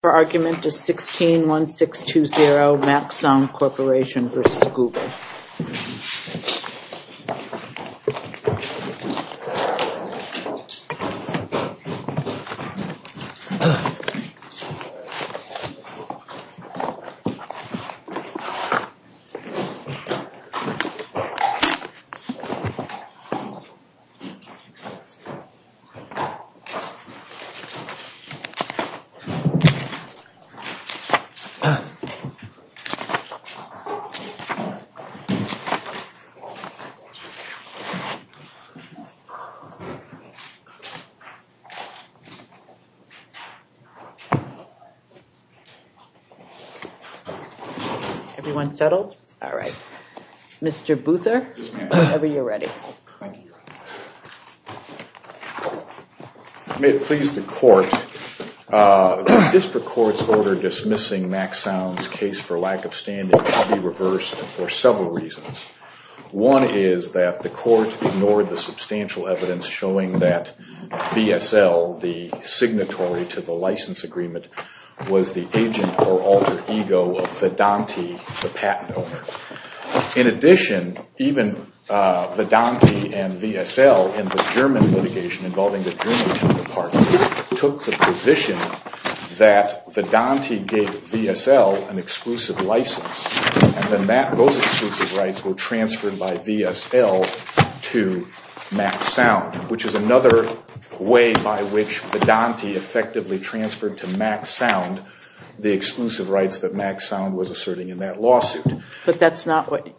161620 Max Sound Corporation v. Google Everyone settled? All right. Mr. Boothor, whenever you're ready. May it please the court, the district court's order dismissing Max Sound's case for lack of standing should be reversed for several reasons. One is that the court ignored the substantial evidence showing that VSL, the signatory to the license agreement, was the agent or alter ego of Vedanti, the patent owner. In addition, even Vedanti and VSL in the German litigation involving the German patent department took the position that Vedanti gave VSL an exclusive license. And then those exclusive rights were transferred by VSL to Max Sound, which is another way by which Vedanti effectively transferred to Max Sound the exclusive rights that Max Sound was asserting in that lawsuit. But that's not what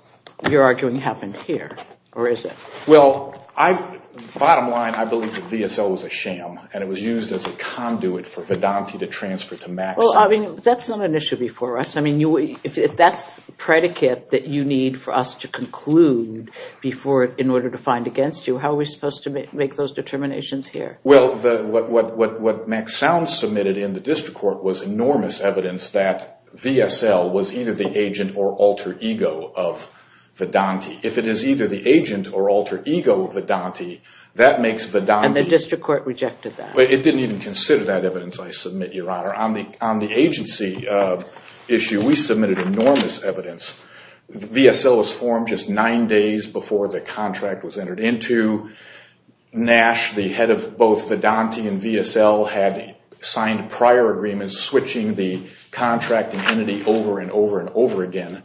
you're arguing happened here, or is it? Well, bottom line, I believe that VSL was a sham and it was used as a conduit for Vedanti to transfer to Max Sound. Well, I mean, that's not an issue before us. I mean, if that's predicate that you need for us to conclude before in order to find against you, how are we supposed to make those determinations here? Well, what Max Sound submitted in the district court was enormous evidence that VSL was either the agent or alter ego of Vedanti. If it is either the agent or alter ego of Vedanti, that makes Vedanti... And the district court rejected that? It didn't even consider that evidence, I submit, Your Honor. On the agency issue, we submitted enormous evidence. VSL was formed just nine days before the contract was entered into. Nash, the head of both Vedanti and VSL, had signed prior agreements switching the contracting entity over and over and over again.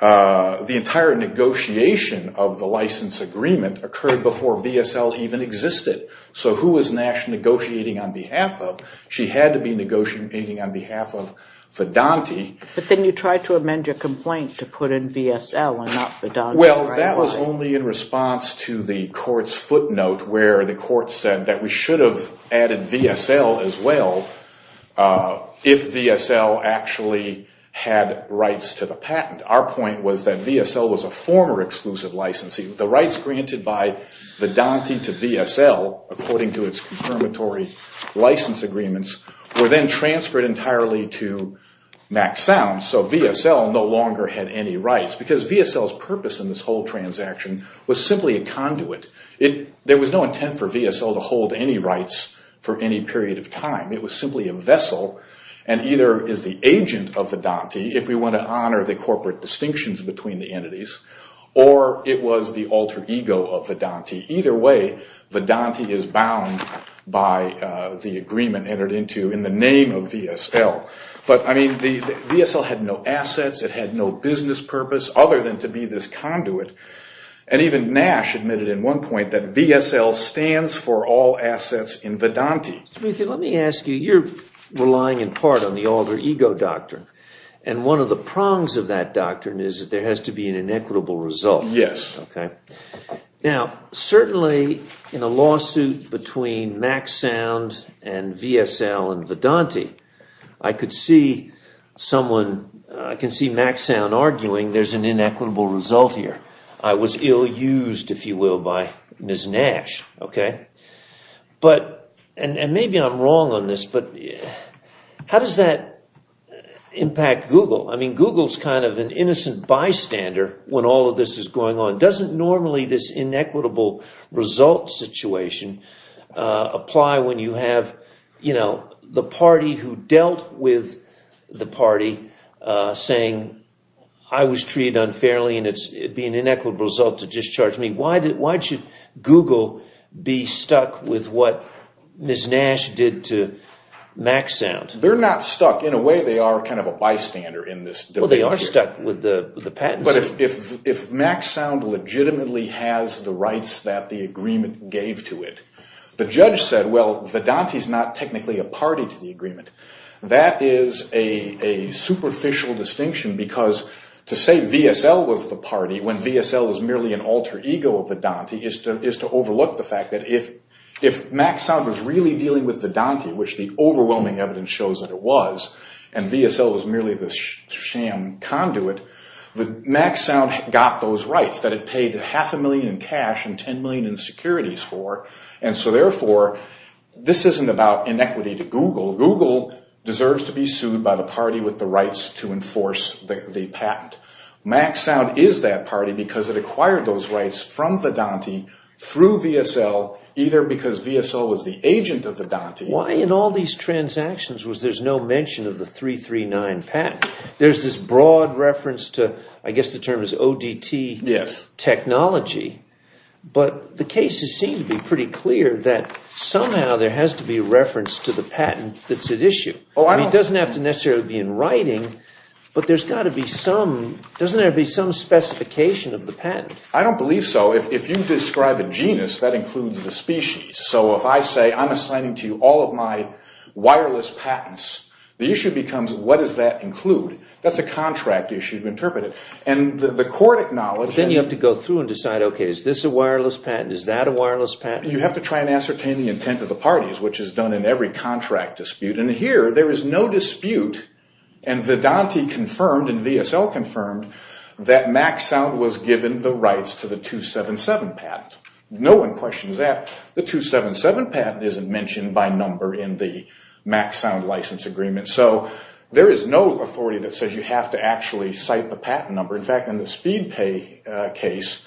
The entire negotiation of the license agreement occurred before VSL even existed. So who was Nash negotiating on behalf of? She had to be negotiating on behalf of Vedanti. But then you tried to amend your complaint to put in VSL and not Vedanti. Well, that was only in response to the court's footnote where the court said that we should have added VSL as well if VSL actually had rights to the patent. Our point was that VSL was a former exclusive licensee. The rights granted by Vedanti to VSL, according to its confirmatory license agreements, were then transferred entirely to Max Sound. So VSL no longer had any rights because VSL's purpose in this whole transaction was simply a conduit. There was no intent for VSL to hold any rights for any period of time. It was simply a vessel and either is the agent of Vedanti, if we want to honor the corporate distinctions between the entities, or it was the alter ego of Vedanti. Either way, Vedanti is bound by the agreement entered into in the name of VSL. But, I mean, VSL had no assets. It had no business purpose other than to be this conduit. And even Nash admitted at one point that VSL stands for all assets in Vedanti. Let me ask you, you're relying in part on the alter ego doctrine. And one of the prongs of that doctrine is that there has to be an inequitable result. Yes. Now, certainly in a lawsuit between Max Sound and VSL and Vedanti, I could see Max Sound arguing there's an inequitable result here. I was ill-used, if you will, by Ms. Nash. And maybe I'm wrong on this, but how does that impact Google? I mean, Google's kind of an innocent bystander when all of this is going on. Doesn't normally this inequitable result situation apply when you have the party who dealt with the party saying, I was treated unfairly and it'd be an inequitable result to discharge me? Why should Google be stuck with what Ms. Nash did to Max Sound? They're not stuck. In a way, they are kind of a bystander in this. Well, they are stuck with the patents. But if Max Sound legitimately has the rights that the agreement gave to it, the judge said, well, Vedanti's not technically a party to the agreement. That is a superficial distinction because to say VSL was the party when VSL is merely an alter ego of Vedanti is to overlook the fact that if Max Sound was really dealing with Vedanti, which the overwhelming evidence shows that it was, and VSL was merely the sham conduit, Max Sound got those rights that it paid half a million in cash and 10 million in securities for. And so, therefore, this isn't about inequity to Google. Google deserves to be sued by the party with the rights to enforce the patent. Max Sound is that party because it acquired those rights from Vedanti through VSL, either because VSL was the agent of Vedanti. Why in all these transactions was there's no mention of the 339 patent? There's this broad reference to, I guess the term is ODT technology. But the cases seem to be pretty clear that somehow there has to be a reference to the patent that's at issue. It doesn't have to necessarily be in writing, but there's got to be some, doesn't there have to be some specification of the patent? I don't believe so. If you describe a genus, that includes the species. So if I say I'm assigning to you all of my wireless patents, the issue becomes what does that include? That's a contract issue to interpret it. Then you have to go through and decide, okay, is this a wireless patent? Is that a wireless patent? You have to try and ascertain the intent of the parties, which is done in every contract dispute. And here, there is no dispute. And Vedanti confirmed and VSL confirmed that Max Sound was given the rights to the 277 patent. No one questions that. The 277 patent isn't mentioned by number in the Max Sound license agreement. So there is no authority that says you have to actually cite the patent number. In fact, in the Speedpay case,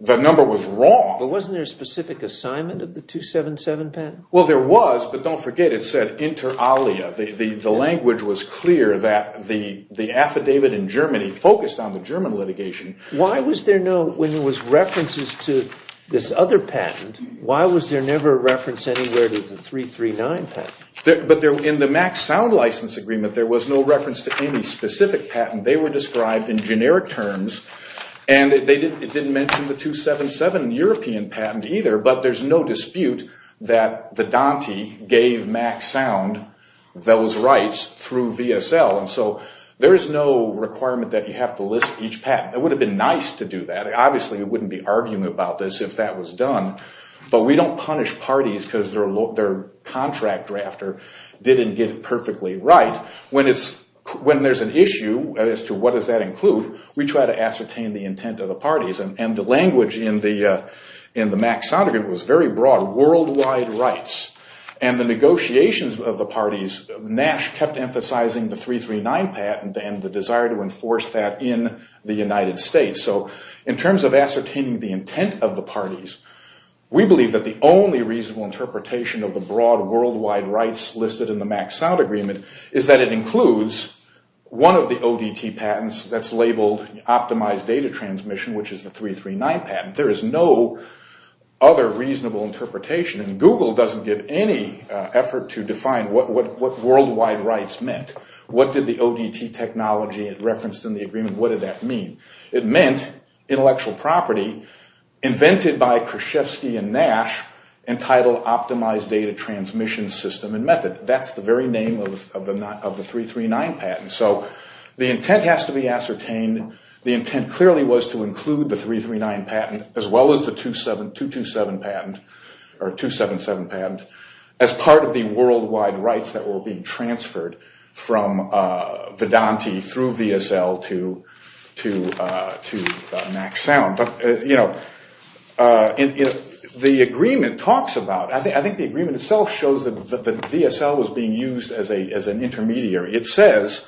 the number was wrong. But wasn't there a specific assignment of the 277 patent? Well, there was, but don't forget it said inter alia. The language was clear that the affidavit in Germany focused on the German litigation. Why was there no, when there was references to this other patent, why was there never a reference anywhere to the 339 patent? But in the Max Sound license agreement, there was no reference to any specific patent. They were described in generic terms, and it didn't mention the 277 European patent either. But there is no dispute that Vedanti gave Max Sound those rights through VSL. And so there is no requirement that you have to list each patent. It would have been nice to do that. Obviously, you wouldn't be arguing about this if that was done. But we don't punish parties because their contract drafter didn't get it perfectly right. When there is an issue as to what does that include, we try to ascertain the intent of the parties. And the language in the Max Sound agreement was very broad, worldwide rights. And the negotiations of the parties, Nash kept emphasizing the 339 patent and the desire to enforce that in the United States. So in terms of ascertaining the intent of the parties, we believe that the only reasonable interpretation of the broad worldwide rights listed in the Max Sound agreement is that it includes one of the ODT patents that's labeled optimized data transmission, which is the 339 patent. There is no other reasonable interpretation. And Google doesn't give any effort to define what worldwide rights meant. What did the ODT technology reference in the agreement, what did that mean? It meant intellectual property invented by Krzyzewski and Nash entitled optimized data transmission system and method. That's the very name of the 339 patent. So the intent has to be ascertained. The intent clearly was to include the 339 patent as well as the 277 patent as part of the worldwide rights that were being transferred from Vedanti through VSL to Max Sound. But, you know, the agreement talks about, I think the agreement itself shows that VSL was being used as an intermediary. It says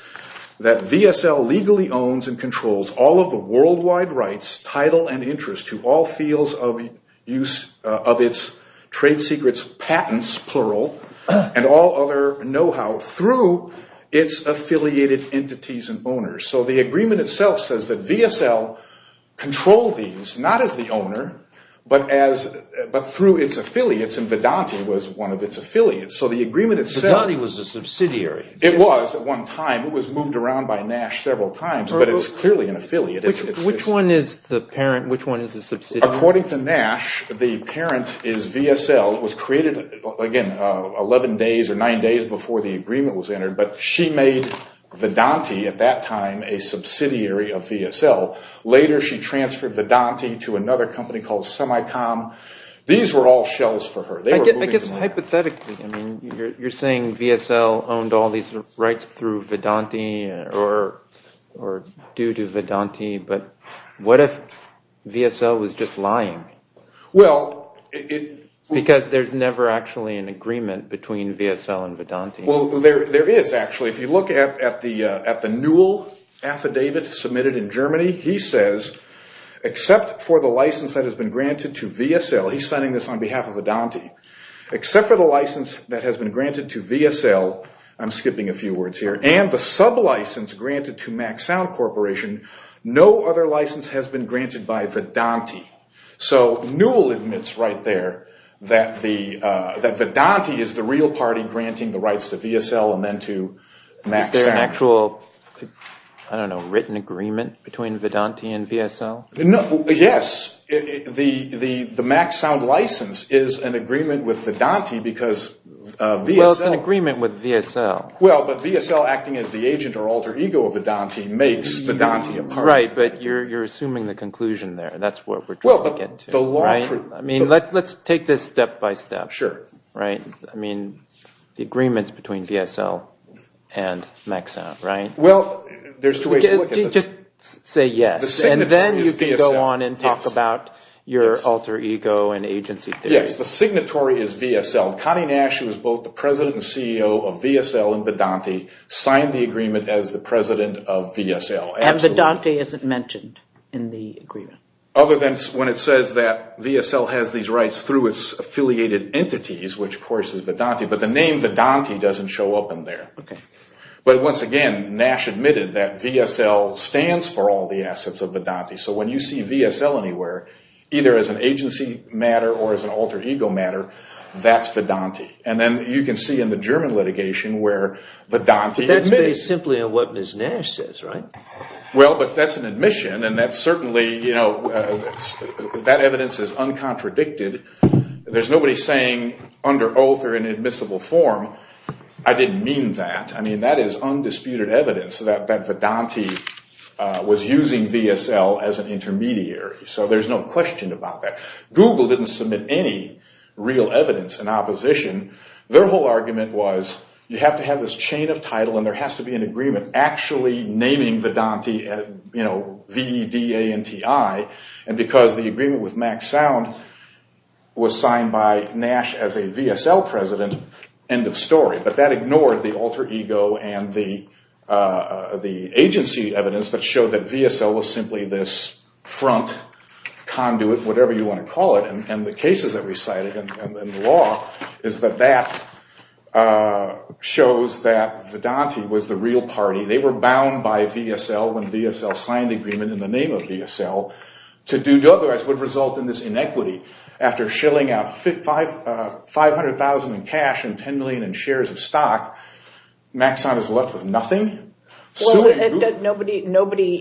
that VSL legally owns and controls all of the worldwide rights, title, and interest to all fields of use of its trade secrets patents, plural, and all other know-how through its affiliated entities and owners. So the agreement itself says that VSL controlled these, not as the owner, but through its affiliates, and Vedanti was one of its affiliates. So the agreement itself. Vedanti was a subsidiary. It was at one time. It was moved around by Nash several times, but it's clearly an affiliate. Which one is the parent? Which one is the subsidiary? According to Nash, the parent is VSL. It was created, again, 11 days or 9 days before the agreement was entered, but she made Vedanti at that time a subsidiary of VSL. Later she transferred Vedanti to another company called Semicom. These were all shells for her. I guess hypothetically, you're saying VSL owned all these rights through Vedanti or due to Vedanti, but what if VSL was just lying? Because there's never actually an agreement between VSL and Vedanti. Well, there is actually. If you look at the Newell affidavit submitted in Germany, he says, except for the license that has been granted to VSL, he's signing this on behalf of Vedanti, except for the license that has been granted to VSL, I'm skipping a few words here, and the sub-license granted to MaxSound Corporation, no other license has been granted by Vedanti. So Newell admits right there that Vedanti is the real party granting the rights to VSL and then to MaxSound. Is there an actual, I don't know, written agreement between Vedanti and VSL? Yes. The MaxSound license is an agreement with Vedanti because VSL… Well, it's an agreement with VSL. Well, but VSL acting as the agent or alter ego of Vedanti makes Vedanti a party. Right, but you're assuming the conclusion there. That's what we're trying to get to. Well, but the law… I mean, let's take this step by step. Sure. I mean, the agreements between VSL and MaxSound, right? Well, there's two ways to look at it. Just say yes, and then you can go on and talk about your alter ego and agency theory. Yes, the signatory is VSL. Connie Nash, who is both the president and CEO of VSL and Vedanti, signed the agreement as the president of VSL. And Vedanti isn't mentioned in the agreement. Other than when it says that VSL has these rights through its affiliated entities, which of course is Vedanti. But the name Vedanti doesn't show up in there. Okay. But once again, Nash admitted that VSL stands for all the assets of Vedanti. So when you see VSL anywhere, either as an agency matter or as an alter ego matter, that's Vedanti. And then you can see in the German litigation where Vedanti admits… But that's based simply on what Ms. Nash says, right? Well, but that's an admission, and that's certainly, you know, that evidence is uncontradicted. There's nobody saying under oath or in admissible form, I didn't mean that. I mean, that is undisputed evidence that Vedanti was using VSL as an intermediary. So there's no question about that. Google didn't submit any real evidence in opposition. Their whole argument was you have to have this chain of title and there has to be an agreement actually naming Vedanti, you know, V-E-D-A-N-T-I. And because the agreement with Max Sound was signed by Nash as a VSL president, end of story. But that ignored the alter ego and the agency evidence that showed that VSL was simply this front conduit, whatever you want to call it. And the cases that we cited in the law is that that shows that Vedanti was the real party. They were bound by VSL when VSL signed the agreement in the name of VSL. To do otherwise would result in this inequity. After shilling out 500,000 in cash and 10 million in shares of stock, Max Sound is left with nothing. Nobody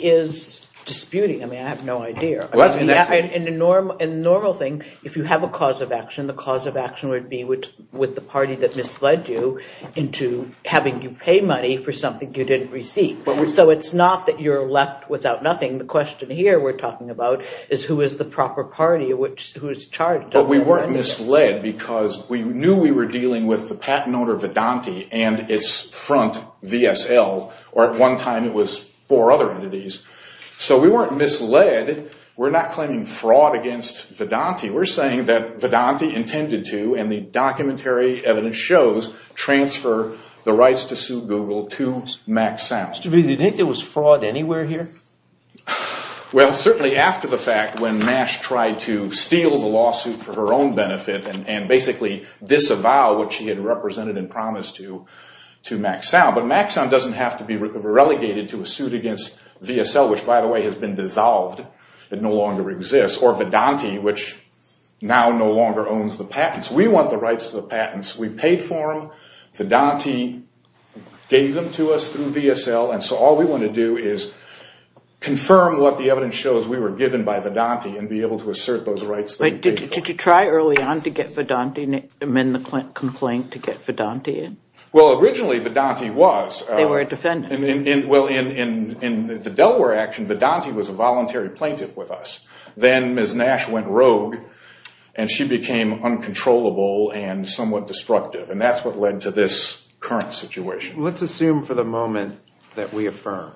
is disputing. I mean, I have no idea. And the normal thing, if you have a cause of action, the cause of action would be with the party that misled you into having you pay money for something you didn't receive. So it's not that you're left without nothing. The question here we're talking about is who is the proper party, who is charged? But we weren't misled because we knew we were dealing with the patent owner Vedanti and its front VSL. Or at one time it was four other entities. So we weren't misled. We're not claiming fraud against Vedanti. We're saying that Vedanti intended to, and the documentary evidence shows, transfer the rights to sue Google to Max Sound. Do you think there was fraud anywhere here? Well, certainly after the fact when MASH tried to steal the lawsuit for her own benefit and basically disavow what she had represented and promised to Max Sound. But Max Sound doesn't have to be relegated to a suit against VSL, which by the way has been dissolved. It no longer exists. Or Vedanti, which now no longer owns the patents. We want the rights to the patents. We paid for them. Vedanti gave them to us through VSL. And so all we want to do is confirm what the evidence shows we were given by Vedanti and be able to assert those rights that we paid for. Did you try early on to get Vedanti to amend the complaint to get Vedanti in? Well, originally Vedanti was. They were a defendant. Well, in the Delaware action, Vedanti was a voluntary plaintiff with us. Then Ms. Nash went rogue and she became uncontrollable and somewhat destructive. And that's what led to this current situation. Let's assume for the moment that we affirm.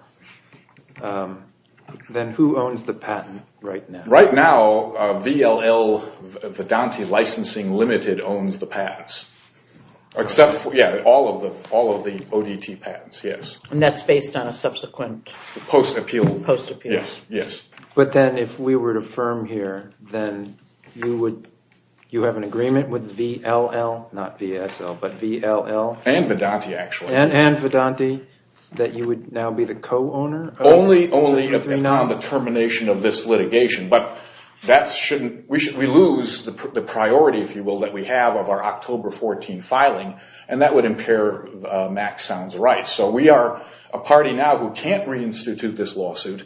Then who owns the patent right now? Right now, VLL Vedanti Licensing Limited owns the patents. Except for, yeah, all of the ODT patents, yes. And that's based on a subsequent? Post appeal. Post appeal. Yes, yes. But then if we were to affirm here, then you have an agreement with VLL, not VSL, but VLL? And Vedanti actually. And Vedanti that you would now be the co-owner? Only upon the termination of this litigation. But that shouldn't. We lose the priority, if you will, that we have of our October 14 filing. And that would impair Mack's sounds rights. So we are a party now who can't reinstitute this lawsuit.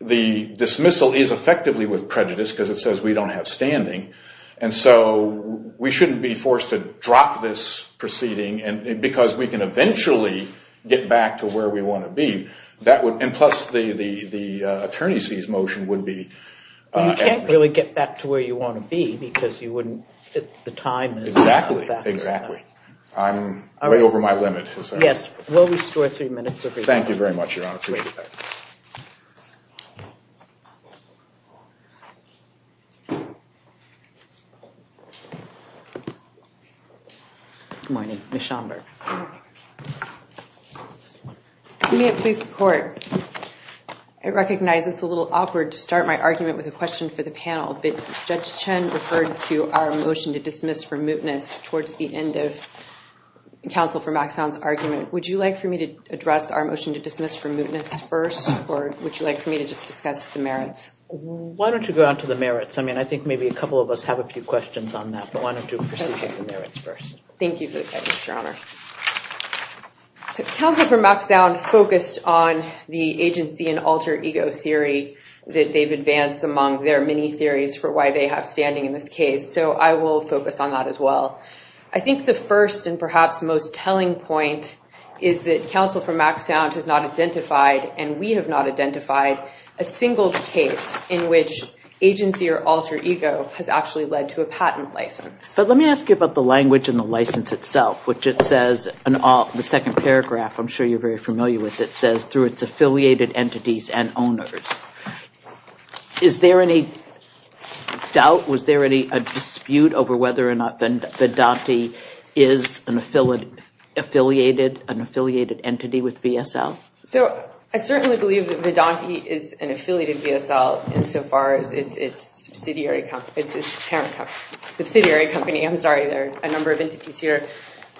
The dismissal is effectively with prejudice because it says we don't have standing. And so we shouldn't be forced to drop this proceeding because we can eventually get back to where we want to be. And plus, the attorney sees motion would be. You can't really get back to where you want to be because you wouldn't at the time. Exactly, exactly. I'm way over my limit. Yes. We'll restore three minutes of your time. Thank you very much, Your Honor. Good morning. Ms. Schomburg. I recognize it's a little awkward to start my argument with a question for the panel. But Judge Chen referred to our motion to dismiss for mootness towards the end of counsel for Mack's sounds argument. Would you like for me to address our motion to dismiss for mootness first? Or would you like for me to just discuss the merits? Why don't you go out to the merits? I mean, I think maybe a couple of us have a few questions on that. But why don't you proceed with the merits first? Thank you for the question, Your Honor. So counsel for Mack's sound focused on the agency and alter ego theory that they've advanced among their many theories for why they have standing in this case. So I will focus on that as well. I think the first and perhaps most telling point is that counsel for Mack's sound has not identified and we have not identified a single case in which agency or alter ego has actually led to a patent license. But let me ask you about the language in the license itself, which it says in the second paragraph, I'm sure you're very familiar with it, it says through its affiliated entities and owners. Is there any doubt, was there any dispute over whether or not Vedanti is an affiliated entity with VSL? So I certainly believe that Vedanti is an affiliated VSL insofar as it's a subsidiary company. I'm sorry, there are a number of entities here.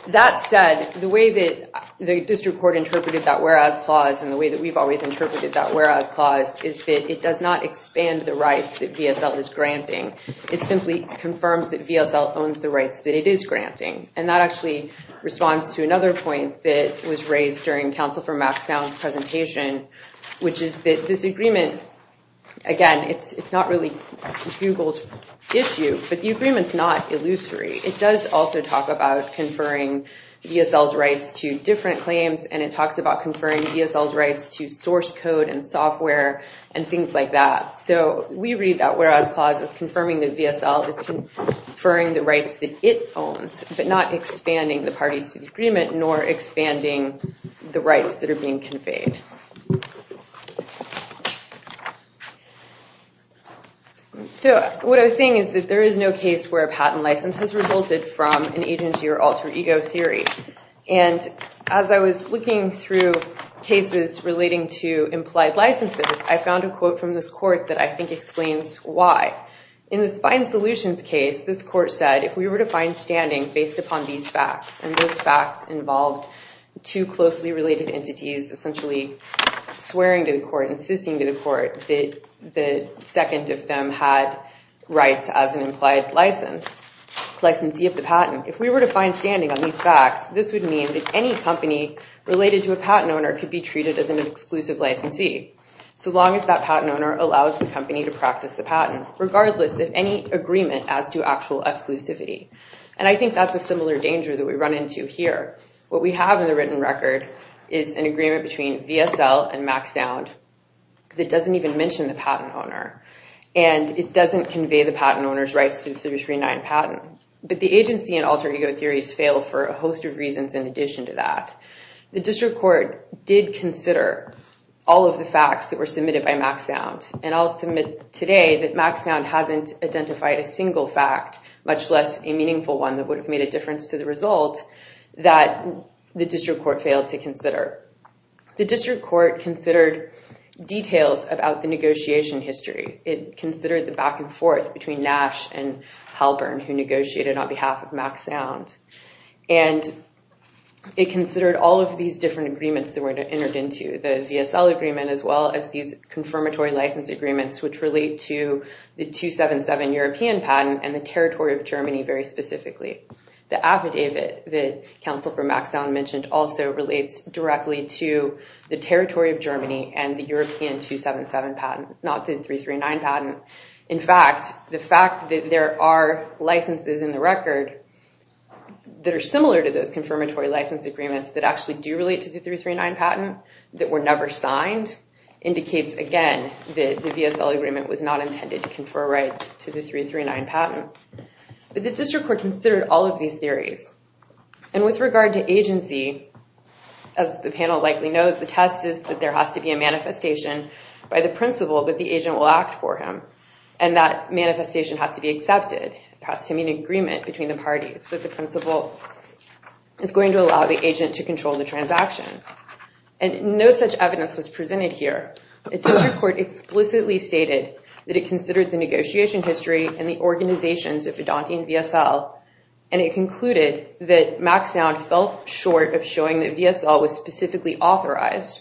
That said, the way that the district court interpreted that whereas clause and the way that we've always interpreted that whereas clause is that it does not expand the rights that VSL is granting. It simply confirms that VSL owns the rights that it is granting. And that actually responds to another point that was raised during counsel for Mack's presentation, which is that this agreement, again, it's not really Google's issue, but the agreement's not illusory. It does also talk about conferring VSL's rights to different claims, and it talks about conferring VSL's rights to source code and software and things like that. So we read that whereas clause as confirming that VSL is conferring the rights that it owns, but not expanding the parties to the agreement nor expanding the rights that are being conveyed. So what I was saying is that there is no case where a patent license has resulted from an agency or alter ego theory. And as I was looking through cases relating to implied licenses, I found a quote from this court that I think explains why. In the Spine Solutions case, this court said, if we were to find standing based upon these facts, and those facts involved two closely related entities essentially swearing to the court, insisting to the court that the second of them had rights as an implied license, licensee of the patent. If we were to find standing on these facts, this would mean that any company related to a patent owner could be treated as an exclusive licensee, so long as that patent owner allows the company to practice the patent, regardless of any agreement as to actual exclusivity. And I think that's a similar danger that we run into here. What we have in the written record is an agreement between VSL and MacSound that doesn't even mention the patent owner, and it doesn't convey the patent owner's rights to the 339 patent. But the agency and alter ego theories fail for a host of reasons in addition to that. The district court did consider all of the facts that were submitted by MacSound. And I'll submit today that MacSound hasn't identified a single fact, much less a meaningful one that would have made a difference to the result, that the district court failed to consider. The district court considered details about the negotiation history. It considered the back and forth between Nash and Halpern, who negotiated on behalf of MacSound. And it considered all of these different agreements that were entered into, the VSL agreement as well as these confirmatory license agreements, which relate to the 277 European patent and the territory of Germany very specifically. The affidavit that counsel for MacSound mentioned also relates directly to the territory of Germany and the European 277 patent, not the 339 patent. In fact, the fact that there are licenses in the record that are similar to those confirmatory license agreements that actually do relate to the 339 patent, that were never signed, indicates again that the VSL agreement was not intended to confer rights to the 339 patent. But the district court considered all of these theories. And with regard to agency, as the panel likely knows, the test is that there has to be a manifestation by the principal that the agent will act for him. And that manifestation has to be accepted. It has to be an agreement between the parties that the principal is going to allow the agent to control the transaction. And no such evidence was presented here. The district court explicitly stated that it considered the negotiation history and the organizations of Vedante and VSL. And it concluded that MacSound felt short of showing that VSL was specifically authorized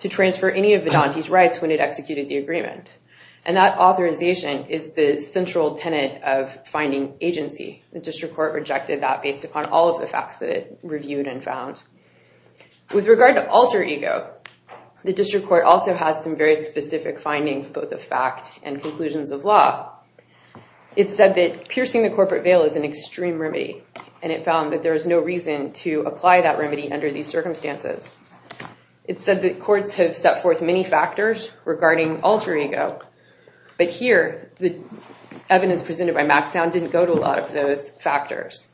to transfer any of Vedante's rights when it executed the agreement. And that authorization is the central tenet of finding agency. The district court rejected that based upon all of the facts that it reviewed and found. With regard to alter ego, the district court also has some very specific findings, both the fact and conclusions of law. It said that piercing the corporate veil is an extreme remedy. And it found that there is no reason to apply that remedy under these circumstances. It said that courts have set forth many factors regarding alter ego. But here, the evidence presented by MacSound didn't go to a lot of those factors.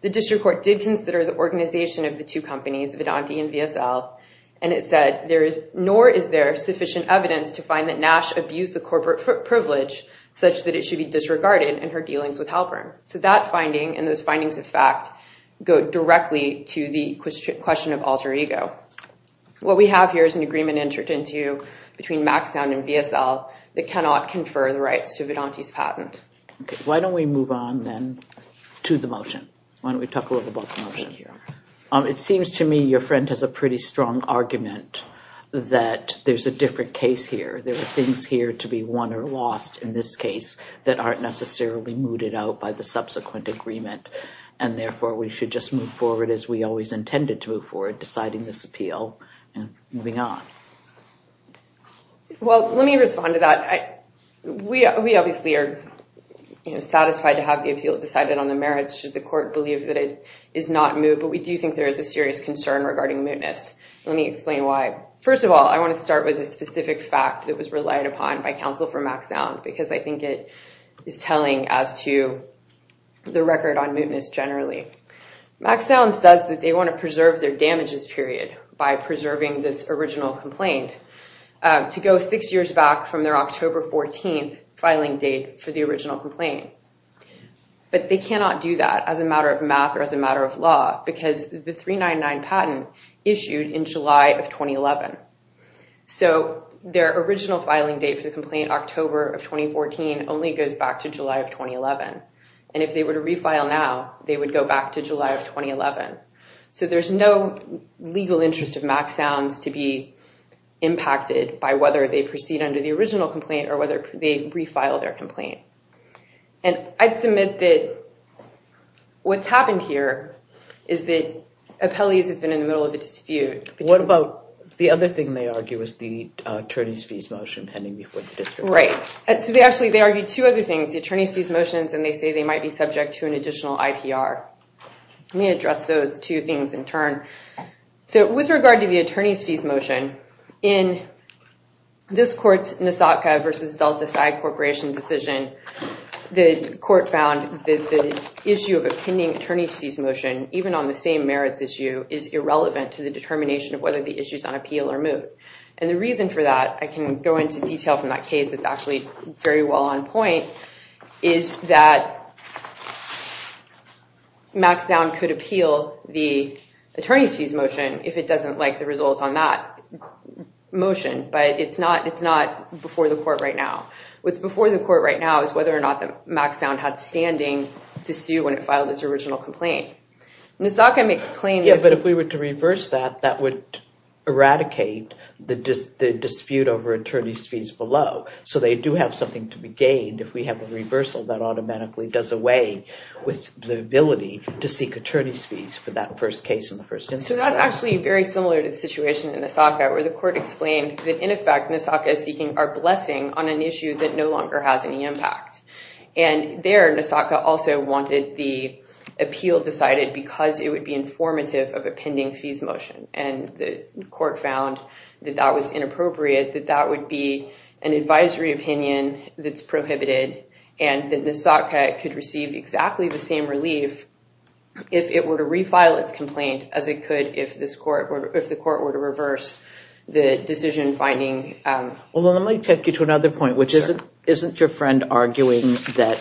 The district court did consider the organization of the two companies, Vedante and VSL. And it said, nor is there sufficient evidence to find that Nash abused the corporate privilege such that it should be disregarded in her dealings with Halpern. So that finding and those findings of fact go directly to the question of alter ego. What we have here is an agreement entered into between MacSound and VSL that cannot confer the rights to Vedante's patent. Why don't we move on then to the motion? Why don't we talk a little about the motion? It seems to me your friend has a pretty strong argument that there's a different case here. There are things here to be won or lost in this case that aren't necessarily mooted out by the subsequent agreement. And therefore, we should just move forward as we always intended to move forward, deciding this appeal and moving on. Well, let me respond to that. We obviously are satisfied to have the appeal decided on the merits should the court believe that it is not moved. But we do think there is a serious concern regarding mootness. Let me explain why. First of all, I want to start with a specific fact that was relied upon by counsel for MacSound because I think it is telling as to the record on mootness generally. MacSound says that they want to preserve their damages period by preserving this original complaint to go six years back from their October 14th filing date for the original complaint. But they cannot do that as a matter of math or as a matter of law because the 399 patent issued in July of 2011. So their original filing date for the complaint, October of 2014, only goes back to July of 2011. And if they were to refile now, they would go back to July of 2011. So there's no legal interest of MacSound's to be impacted by whether they proceed under the original complaint or whether they refile their complaint. And I'd submit that what's happened here is that appellees have been in the middle of a dispute. What about the other thing they argue was the attorney's fees motion pending before the district? Right. Actually, they argued two other things, the attorney's fees motions, and they say they might be subject to an additional IPR. Let me address those two things in turn. So with regard to the attorney's fees motion, in this court's Nasatka v. Delta Psy Corporation decision, the court found that the issue of a pending attorney's fees motion, even on the same merits issue, is irrelevant to the determination of whether the issue is on appeal or moot. And the reason for that, I can go into detail from that case, it's actually very well on point, is that MacSound could appeal the attorney's fees motion if it doesn't like the results on that motion. But it's not before the court right now. What's before the court right now is whether or not that MacSound had standing to sue when it filed its original complaint. Nasatka makes claim that... Yeah, but if we were to reverse that, that would eradicate the dispute over attorney's fees below. So they do have something to be gained if we have a reversal that automatically does away with the ability to seek attorney's fees for that first case and the first instance. So that's actually very similar to the situation in Nasatka where the court explained that, in effect, Nasatka is seeking our blessing on an issue that no longer has any impact. And there, Nasatka also wanted the appeal decided because it would be informative of a pending fees motion. And the court found that that was inappropriate, that that would be an advisory opinion that's prohibited, and that Nasatka could receive exactly the same relief if it were to refile its complaint as it could if the court were to reverse the decision finding. Well, let me take you to another point, which isn't your friend arguing that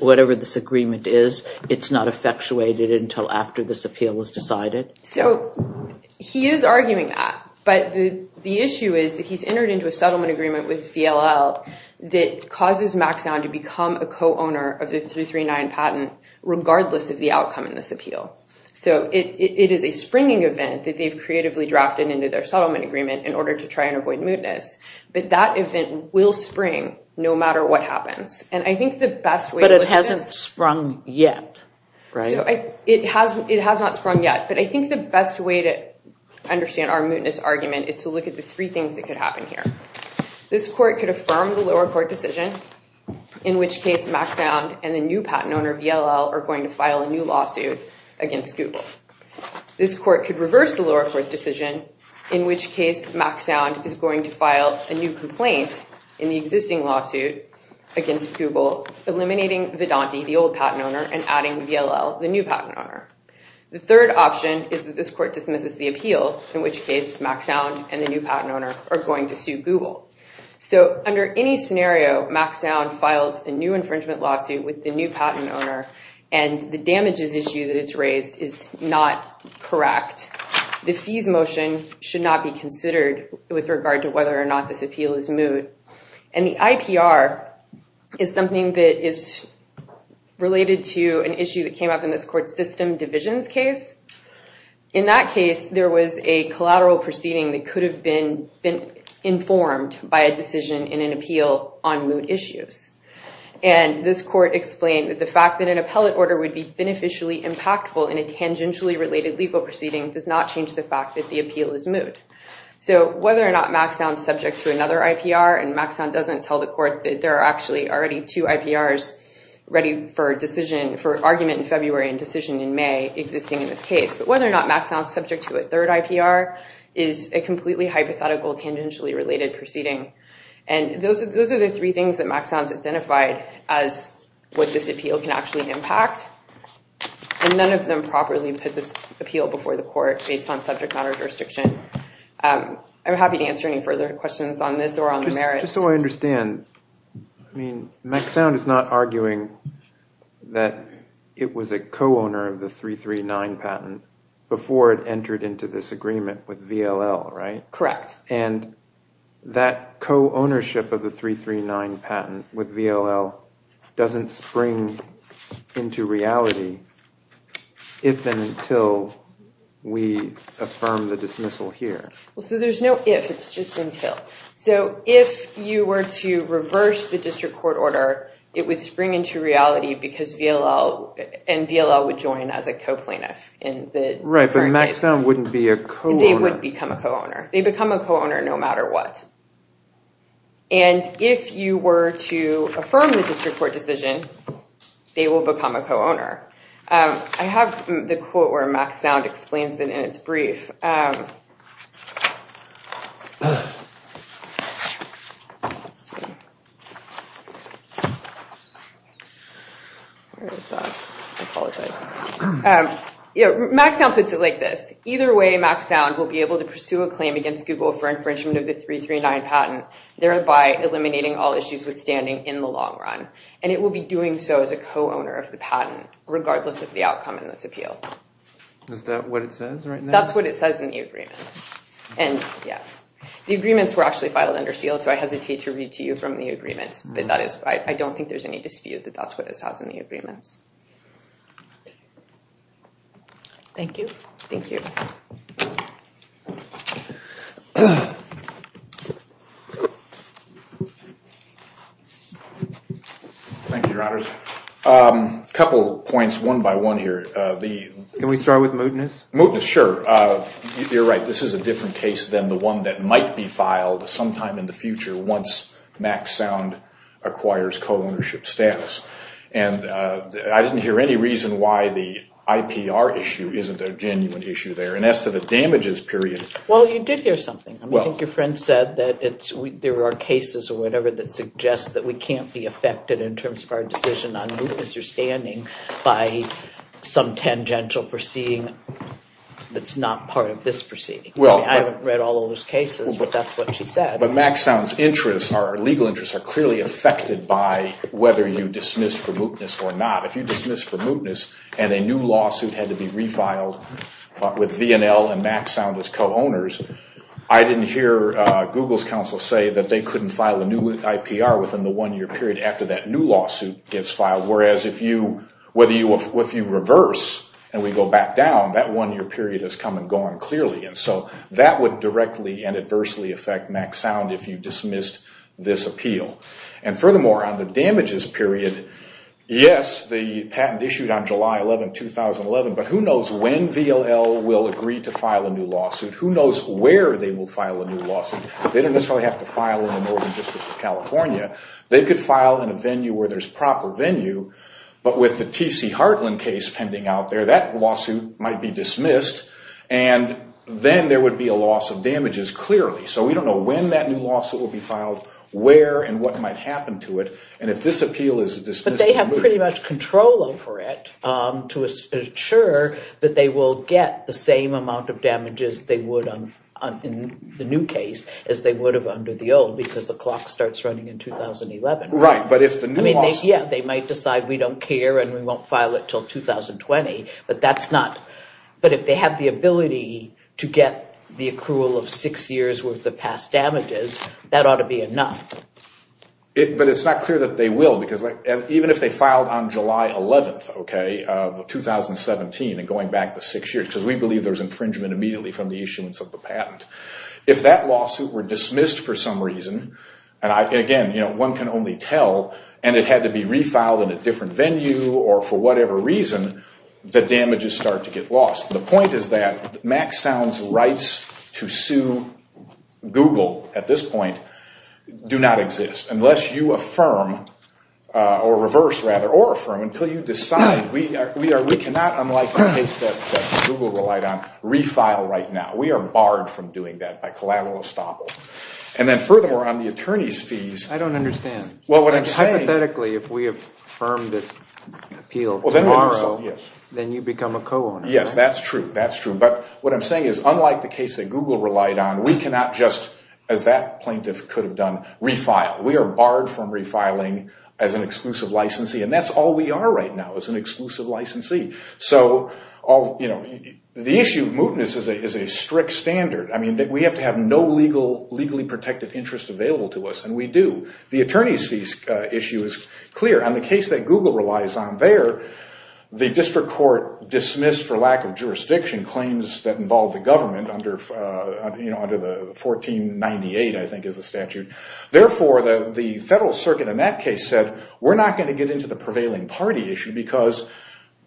whatever this agreement is, it's not effectuated until after this appeal is decided? So he is arguing that, but the issue is that he's entered into a settlement agreement with VLL that causes MacSound to become a co-owner of the 339 patent regardless of the outcome in this appeal. So it is a springing event that they've creatively drafted into their settlement agreement in order to try and avoid mootness, but that event will spring no matter what happens. But it hasn't sprung yet, right? It has not sprung yet, but I think the best way to understand our mootness argument is to look at the three things that could happen here. This court could affirm the lower court decision, in which case MacSound and the new patent owner VLL are going to file a new lawsuit against Google. This court could reverse the lower court decision, in which case MacSound is going to file a new complaint in the existing lawsuit against Google, eliminating Vedanti, the old patent owner, and adding VLL, the new patent owner. The third option is that this court dismisses the appeal, in which case MacSound and the new patent owner are going to sue Google. So under any scenario, MacSound files a new infringement lawsuit with the new patent owner, and the damages issue that it's raised is not correct. The fees motion should not be considered with regard to whether or not this appeal is moot. And the IPR is something that is related to an issue that came up in this court's system divisions case. In that case, there was a collateral proceeding that could have been informed by a decision in an appeal on moot issues. And this court explained that the fact that an appellate order would be beneficially impactful in a tangentially related legal proceeding does not change the fact that the appeal is moot. So whether or not MacSound is subject to another IPR, and MacSound doesn't tell the court that there are actually already two IPRs ready for argument in February and decision in May, existing in this case, but whether or not MacSound is subject to a third IPR is a completely hypothetical tangentially related proceeding. And those are the three things that MacSound has identified as what this appeal can actually impact. And none of them properly put this appeal before the court based on subject matter jurisdiction. I'm happy to answer any further questions on this or on the merits. Just so I understand, I mean, MacSound is not arguing that it was a co-owner of the 339 patent before it entered into this agreement with VLL, right? Correct. And that co-ownership of the 339 patent with VLL doesn't spring into reality if and until we affirm the dismissal here. So there's no if, it's just until. So if you were to reverse the district court order, it would spring into reality because VLL and VLL would join as a co-plaintiff in the current case. Right, but MacSound wouldn't be a co-owner. They wouldn't become a co-owner. They become a co-owner no matter what. And if you were to affirm the district court decision, they will become a co-owner. I have the quote where MacSound explains it in its brief. Where is that? I apologize. MacSound puts it like this. Either way, MacSound will be able to pursue a claim against Google for infringement of the 339 patent, thereby eliminating all issues withstanding in the long run. And it will be doing so as a co-owner of the patent, regardless of the outcome in this appeal. Is that what it says right now? That's what it says in the agreement. The agreements were actually filed under seal, so I hesitate to read to you from the agreements. But I don't think there's any dispute that that's what it says in the agreements. Thank you. Thank you. Thank you, Your Honors. A couple points, one by one here. Can we start with Mootness? Mootness, sure. You're right, this is a different case than the one that might be filed sometime in the future once MacSound acquires co-ownership status. And I didn't hear any reason why the IPR issue isn't a genuine issue there. And as to the damages period... Well, you did hear something. I think your friend said that there are cases or whatever that suggest that we can't be affected in terms of our decision on Mootness or standing by some tangential proceeding that's not part of this proceeding. I haven't read all of those cases, but that's what she said. But MacSound's interests, our legal interests, are clearly affected by whether you dismiss for Mootness or not. If you dismiss for Mootness and a new lawsuit had to be refiled with V&L and MacSound as co-owners, I didn't hear Google's counsel say that they couldn't file a new IPR within the one-year period after that new lawsuit gets filed, whereas if you reverse and we go back down, that one-year period has come and gone clearly. So that would directly and adversely affect MacSound if you dismissed this appeal. And furthermore, on the damages period, yes, the patent issued on July 11, 2011, but who knows when V&L will agree to file a new lawsuit? Who knows where they will file a new lawsuit? They don't necessarily have to file in the Northern District of California. They could file in a venue where there's proper venue, that lawsuit might be dismissed and then there would be a loss of damages clearly. So we don't know when that new lawsuit will be filed, where, and what might happen to it, and if this appeal is dismissed or moot. But they have pretty much control over it to ensure that they will get the same amount of damages they would in the new case as they would have under the old because the clock starts running in 2011. Right, but if the new lawsuit... Yeah, they might decide we don't care and we won't file it until 2020, but that's not... But if they have the ability to get the accrual of six years worth of past damages, that ought to be enough. But it's not clear that they will because even if they filed on July 11, okay, of 2017 and going back to six years, because we believe there's infringement immediately from the issuance of the patent. If that lawsuit were dismissed for some reason, and again, one can only tell, and it had to be refiled in a different venue or for whatever reason, the damages start to get lost. The point is that Max Sound's rights to sue Google at this point do not exist unless you affirm, or reverse rather, or affirm until you decide we cannot, unlike the case that Google relied on, refile right now. We are barred from doing that by collateral estoppel. And then furthermore, on the attorney's fees... I don't understand. Well, what I'm saying... Hypothetically, if we affirm this appeal tomorrow... Yes. ...then you become a co-owner. Yes, that's true, that's true. But what I'm saying is, unlike the case that Google relied on, we cannot just, as that plaintiff could have done, refile. We are barred from refiling as an exclusive licensee, and that's all we are right now is an exclusive licensee. So the issue of mootness is a strict standard. I mean, we have to have no legally protected interest available to us, and we do. The attorney's fees issue is clear. On the case that Google relies on there, the district court dismissed, for lack of jurisdiction, claims that involved the government under the 1498, I think, is the statute. Therefore, the federal circuit in that case said, we're not going to get into the prevailing party issue because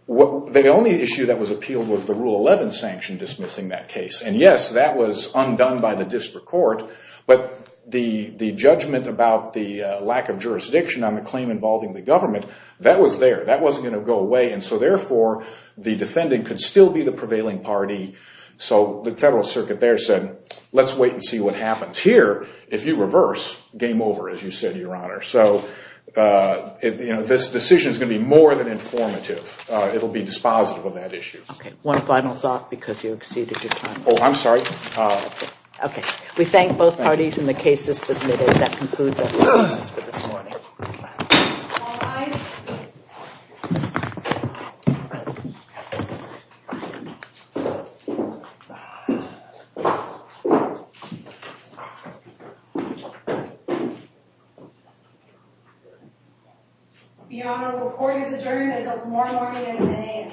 the only issue that was appealed was the Rule 11 sanction dismissing that case. And yes, that was undone by the district court, but the judgment about the lack of jurisdiction on the claim involving the government, that was there. That wasn't going to go away, and so therefore, the defending could still be the prevailing party. So the federal circuit there said, let's wait and see what happens. Here, if you reverse, game over, as you said, Your Honor. So this decision is going to be more than informative. It will be dispositive of that issue. One final thought, because you exceeded your time. Oh, I'm sorry. Okay. We thank both parties and the cases submitted. That concludes our proceedings for this morning. All rise. Your Honor, the court has adjourned until tomorrow morning at 10 a.m.